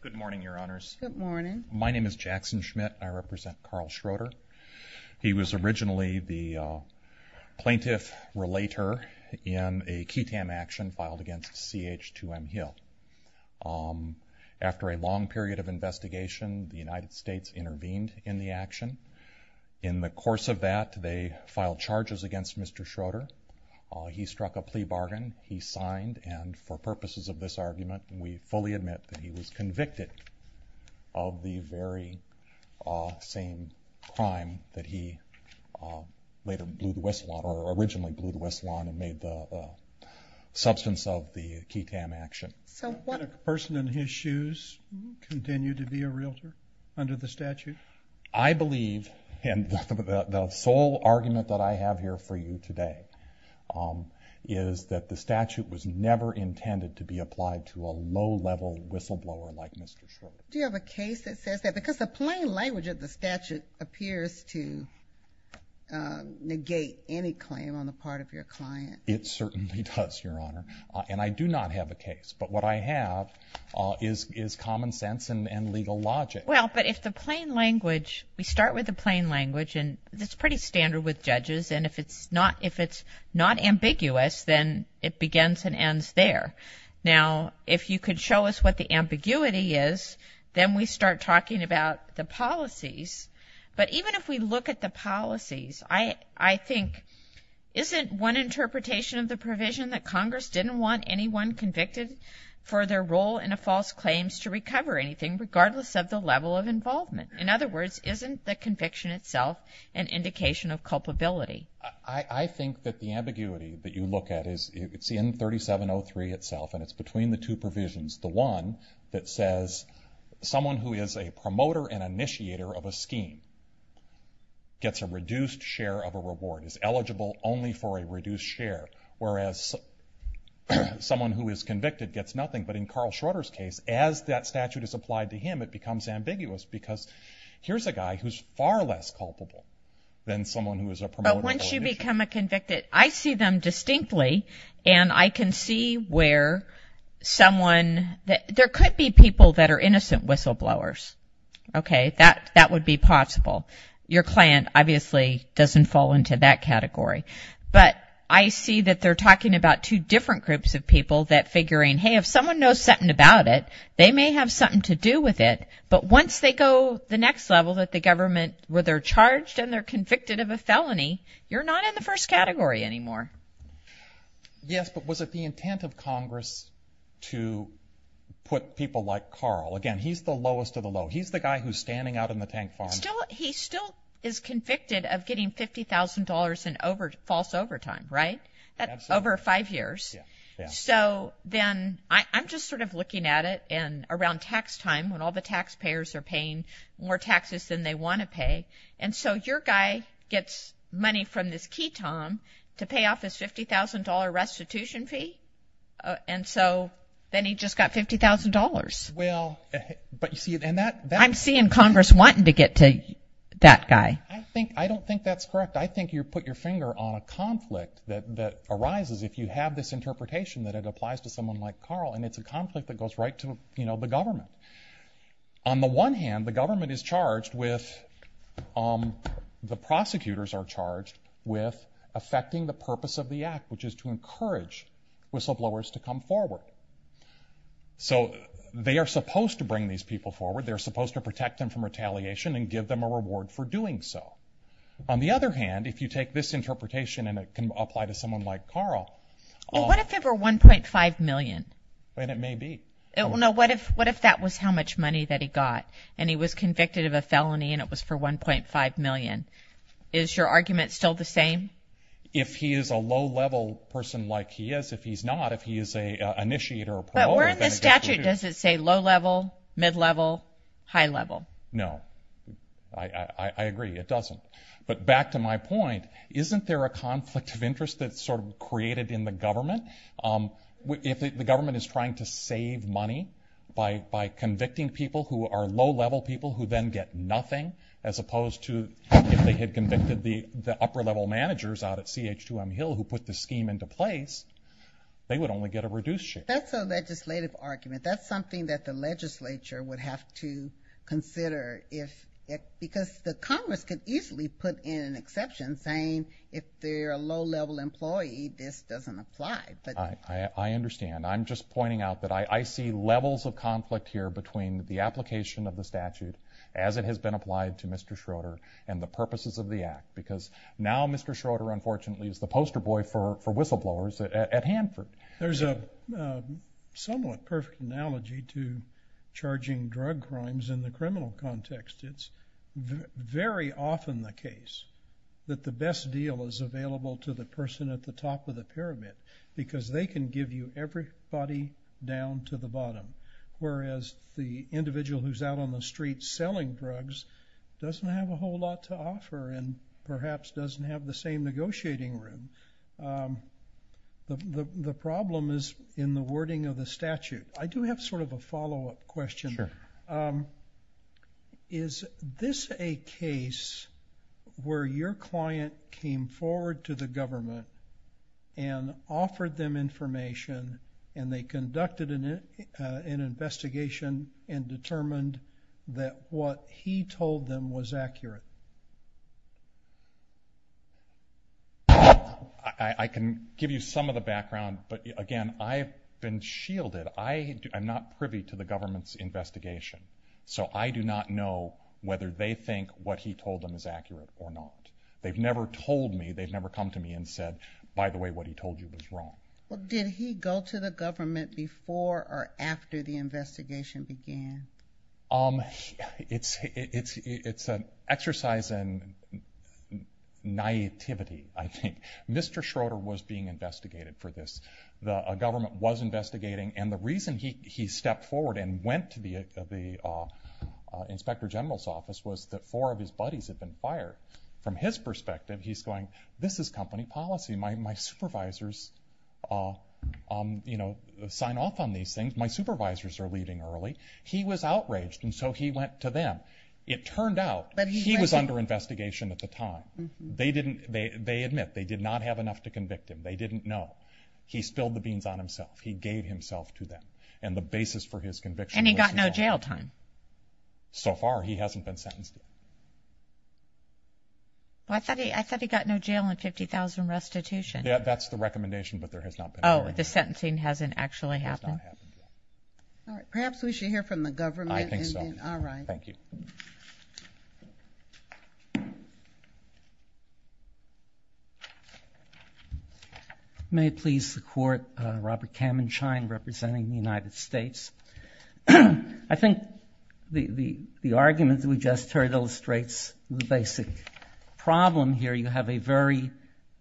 Good morning, Your Honors. My name is Jackson Schmidt. I represent Carl Schroeder. He was originally the plaintiff-relator in a Ketam action filed against C.H.2M Hill. After a long period of investigation, the United States intervened in the action. In the course of that, they filed charges against Mr. Schroeder. He struck a plea bargain. He signed, and for that, he was convicted of the very same crime that he later blew the whistle on, or originally blew the whistle on, and made the substance of the Ketam action. So would a person in his shoes continue to be a realtor under the statute? I believe, and the sole argument that I have here for you today, is that the statute was Do you have a case that says that? Because the plain language of the statute appears to negate any claim on the part of your client. It certainly does, Your Honor. And I do not have a case. But what I have is common sense and legal logic. Well, but if the plain language, we start with the plain language, and it's pretty standard with judges, and if it's not ambiguous, then it begins and ends there. Now, if you could show us what the ambiguity is, then we start talking about the policies. But even if we look at the policies, I think, isn't one interpretation of the provision that Congress didn't want anyone convicted for their role in a false claims to recover anything, regardless of the level of involvement? In other words, isn't the conviction itself an indication of culpability? I think that the ambiguity that you look at is, it's in 3703 itself, and it's between the two provisions. The one that says, someone who is a promoter and initiator of a scheme gets a reduced share of a reward, is eligible only for a reduced share, whereas someone who is convicted gets nothing. But in Carl Schroeder's case, as that statute is applied to him, it becomes ambiguous, because here's a guy who's far less culpable than someone who is a promoter. But once you become a convicted, I see them distinctly, and I can see where someone, there could be people that are innocent whistleblowers, okay? That would be possible. Your client, obviously, doesn't fall into that category. But I see that they're talking about two different groups of people that figuring, hey, if someone knows something about it, they may have something to do with it. But once they go the next level, that the government, where they're charged and they're convicted of a felony, you're not in the first category anymore. Yes, but was it the intent of Congress to put people like Carl? Again, he's the lowest of the low. He's the guy who's standing out in the tank farm. He still is convicted of getting $50,000 in false overtime, right? That's over five years. So then, I'm just sort of looking at it in around tax time, when all the taxpayers are paying more taxes than they want to pay. And so your guy gets money from this key tom to pay off his $50,000 restitution fee. And so then he just got $50,000. Well, but you see, and that- I'm seeing Congress wanting to get to that guy. I don't think that's correct. I think you put your finger on a conflict that arises if you have this interpretation that it applies to someone like Carl. And it's a conflict that goes right to the government. On the one hand, the government is charged with, the prosecutors are charged with affecting the purpose of the act, which is to encourage whistleblowers to come forward. So they are supposed to bring these people forward. They're supposed to protect them from retaliation and give them a reward for doing so. On the other hand, if you take this interpretation and it can apply to someone like Carl- Well, what if it were $1.5 million? And it may be. No, what if that was how much money that he got? And he was convicted of a felony and it was for $1.5 million? Is your argument still the same? If he is a low-level person like he is. If he's not, if he is an initiator or promoter, then it doesn't matter. But where in the statute does it say low-level, mid-level, high-level? No. I agree, it doesn't. But back to my point, isn't there a conflict of interest that's sort of created in the government? If the government is trying to save money by convicting people who are low-level people who then get nothing, as opposed to if they had convicted the upper-level managers out at CH2M Hill who put this scheme into place, they would only get a reduced share. That's a legislative argument. That's something that the legislature would have to consider if, because the Congress could easily put in an exception saying if they're a low-level employee, this doesn't apply. I understand. I'm just pointing out that I see levels of conflict here between the application of the statute as it has been applied to Mr. Schroeder and the purposes of the act, because now Mr. Schroeder, unfortunately, is the poster boy for whistleblowers at Hanford. There's a somewhat perfect analogy to charging drug crimes in the criminal context. It's very often the case that the best deal is available to the person at the top of the pyramid, because they can give you everybody down to the bottom, whereas the individual who's out on the street selling drugs doesn't have a whole lot to offer, and perhaps doesn't have the same negotiating room. The problem is in the wording of the statute. I do have sort of a follow-up question. Sure. Is this a case where your client came forward to the government and offered them information, and they conducted an investigation and determined that what he told them was accurate? I can give you some of the background, but again, I've been shielded. I am not privy to the government's investigation, so I do not know whether they think what he told them is accurate or not. They've never told me. They've never come to me and said, by the way, what he told you was wrong. Well, did he go to the government before or after the investigation began? It's an exercise in naivety, I think. Mr. Schroeder was being investigated for this. The government was investigating, and the reason he stepped forward and went to the Inspector General's office was that four of his buddies had been fired. From his perspective, he's going, this is company policy. My supervisors sign off on these things. My supervisors are leaving early. He was outraged, and so he went to them. It turned out he was under investigation at the time. They admit they did not have enough to convict him. They didn't know. He spilled the beans on himself. He gave himself to them, and the basis for his conviction was his own. And he got no jail time? So far, he hasn't been sentenced yet. Well, I thought he got no jail and 50,000 restitution. Yeah, that's the recommendation, but there has not been. Oh, the sentencing hasn't actually happened? It has not happened yet. All right, perhaps we should hear from the government. I think so. All right. Thank you. May it please the court, Robert Kamenschein, representing the United States. I think the argument that we just heard illustrates the basic problem here. You have a very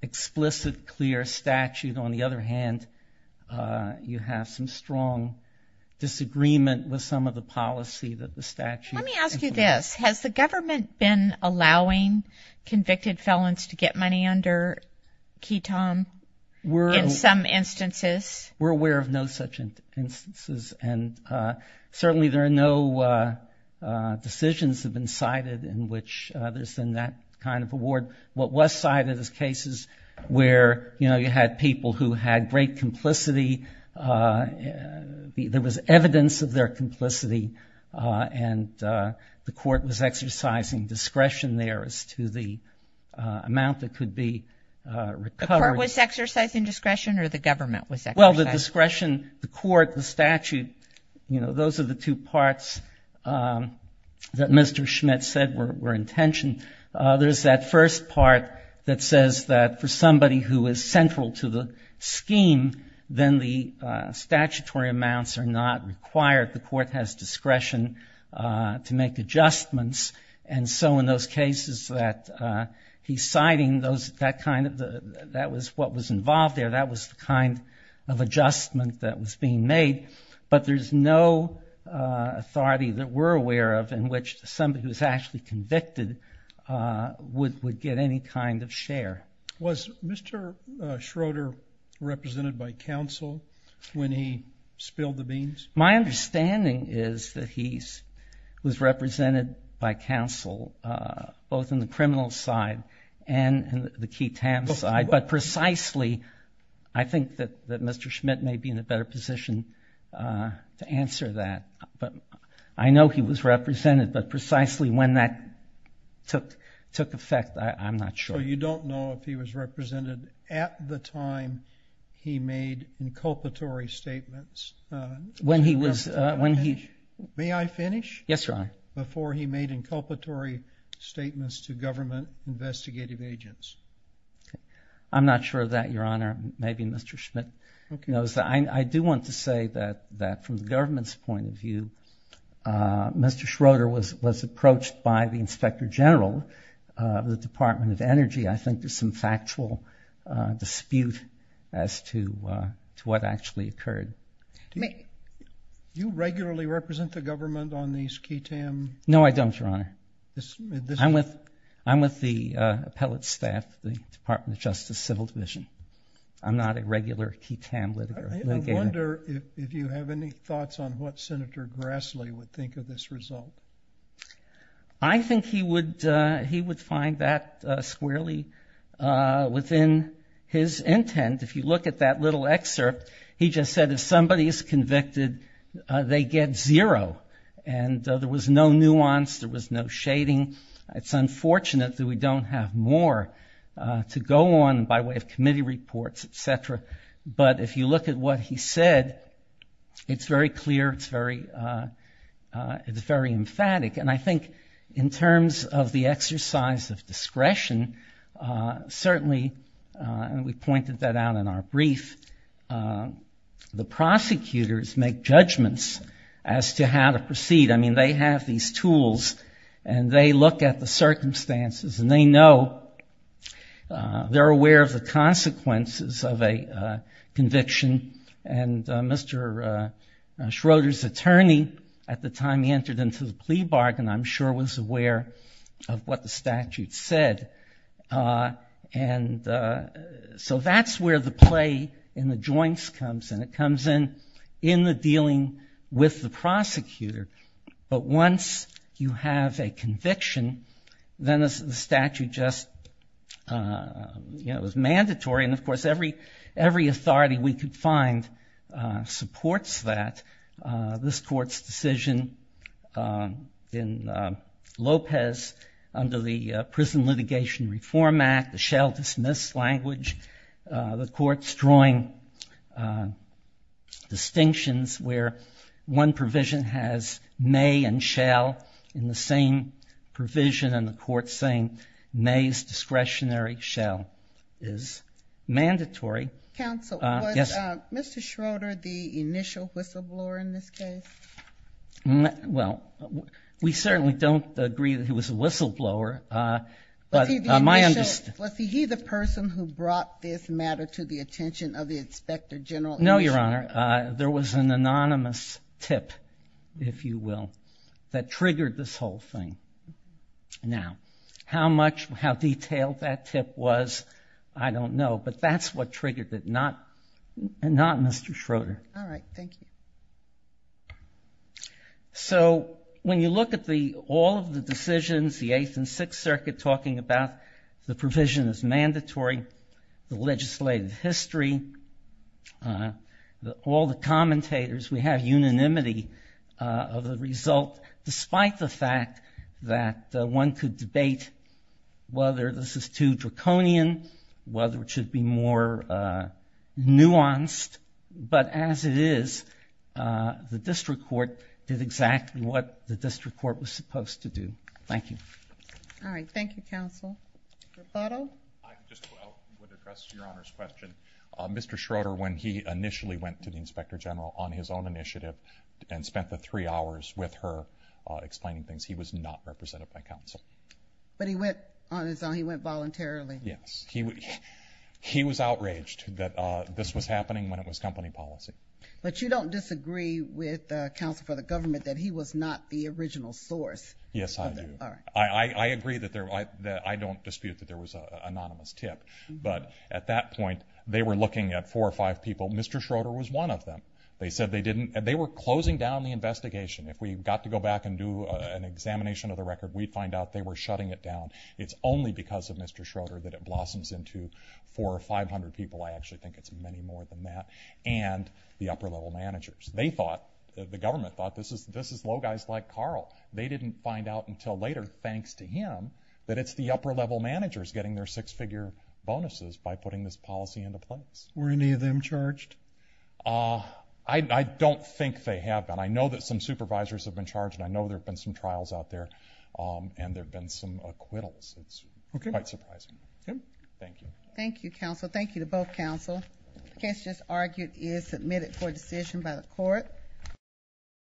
explicit, clear statute. On the other hand, you have some strong disagreement with some of the policy that the statute is implementing. Let me ask you this. Has the government been allowing convicts and felons to get money under ketamine in some instances? We're aware of no such instances. And certainly, there are no decisions have been cited in which there's been that kind of award. What was cited is cases where you had people who had great complicity. There was evidence of their complicity, and the court was exercising discretion there as to the amount that could be recovered. The court was exercising discretion, or the government was exercising? Well, the discretion, the court, the statute, those are the two parts that Mr. Schmidt said were intentioned. There's that first part that says that for somebody who is central to the scheme, then the statutory amounts are not required. The court has discretion to make adjustments. And so in those cases that he's citing, that was what was involved there. That was the kind of adjustment that was being made. But there's no authority that we're aware of in which somebody who's actually convicted would get any kind of share. Was Mr. Schroeder represented by counsel when he spilled the beans? My understanding is that he was represented by counsel, both in the criminal side and the key TAM side. But precisely, I think that Mr. Schmidt may be in a better position to answer that. But I know he was represented. But precisely when that took effect, I'm not sure. So you don't know if he was represented at the time he made inculpatory statements? When he was, when he- May I finish? Yes, Your Honor. Before he made inculpatory statements to government investigative agents? I'm not sure of that, Your Honor. Maybe Mr. Schmidt knows that. I do want to say that from the government's point of view, Mr. Schroeder was approached by the inspector general of the Department of Energy. I think there's some factual dispute as to what actually occurred. Do you regularly represent the government on these key TAM? No, I don't, Your Honor. I'm with the appellate staff of the Department of Justice Civil Division. I'm not a regular key TAM litigator. I wonder if you have any thoughts on what Senator Grassley would think of this result. I think he would find that squarely within his intent. If you look at that little excerpt, he just said if somebody is convicted, they get zero. And there was no nuance. There was no shading. It's unfortunate that we don't have more to go on by way of committee reports, et cetera. But if you look at what he said, it's very clear. And I think in terms of the exercise of discretion, certainly, and we pointed that out in our brief, the prosecutors make judgments as to how to proceed. I mean, they have these tools, and they look at the circumstances. And they know, they're aware of the consequences of a conviction. And Mr. Schroeder's attorney, at the time he entered into the plea bargain, I'm sure, was aware of what the statute said. So that's where the play in the joints comes in. It comes in in the dealing with the prosecutor. But once you have a conviction, then the statute just is mandatory. And of course, every authority we could find supports that. This court's decision in Lopez under the Prison Litigation Reform Act, the shell dismiss language, the court's drawing distinctions where one provision has may and shall in the same provision. And the court's saying may's discretionary shell is mandatory. Counsel, was Mr. Schroeder the initial whistleblower in this case? Well, we certainly don't agree that he was a whistleblower. But my understanding is he the person who brought this matter to the attention of the Inspector General? No, Your Honor. There was an anonymous tip, if you will, that triggered this whole thing. Now, how much, how detailed that tip was, I don't know. But that's what triggered it, not Mr. Schroeder. All right, thank you. So when you look at all of the decisions, the Eighth and Sixth Circuit talking about the provision is mandatory, the legislative history, all the commentators, we have unanimity of the result, despite the fact that one could debate whether this is too draconian, whether it should be more nuanced. But as it is, the district court did exactly what the district court was supposed to do. Thank you. All right, thank you, counsel. Rebuttal? I just would address Your Honor's question. Mr. Schroeder, when he initially went to the Inspector General on his own initiative and spent the three hours with her explaining things, he was not represented by counsel. But he went on his own. He went voluntarily. Yes. He was outraged that this was happening when it was company policy. But you don't disagree with counsel for the government that he was not the original source? Yes, I do. I agree that there was, I don't dispute that there was an anonymous tip. But at that point, they were looking at four or five people. Mr. Schroeder was one of them. They said they didn't, they were closing down the investigation. If we got to go back and do an examination of the record, we'd find out they were shutting it down. It's only because of Mr. Schroeder that it blossoms into four or 500 people. I actually think it's many more than that. And the upper-level managers. They thought, the government thought, this is low guys like Carl. They didn't find out until later, thanks to him, that it's the upper-level managers getting their six-figure bonuses by putting this policy into place. Were any of them charged? I don't think they have been. I know that some supervisors have been charged. And I know there have been some trials out there. And there have been some acquittals. It's quite surprising. Thank you. Thank you, counsel. Thank you to both counsel. for decision by the court.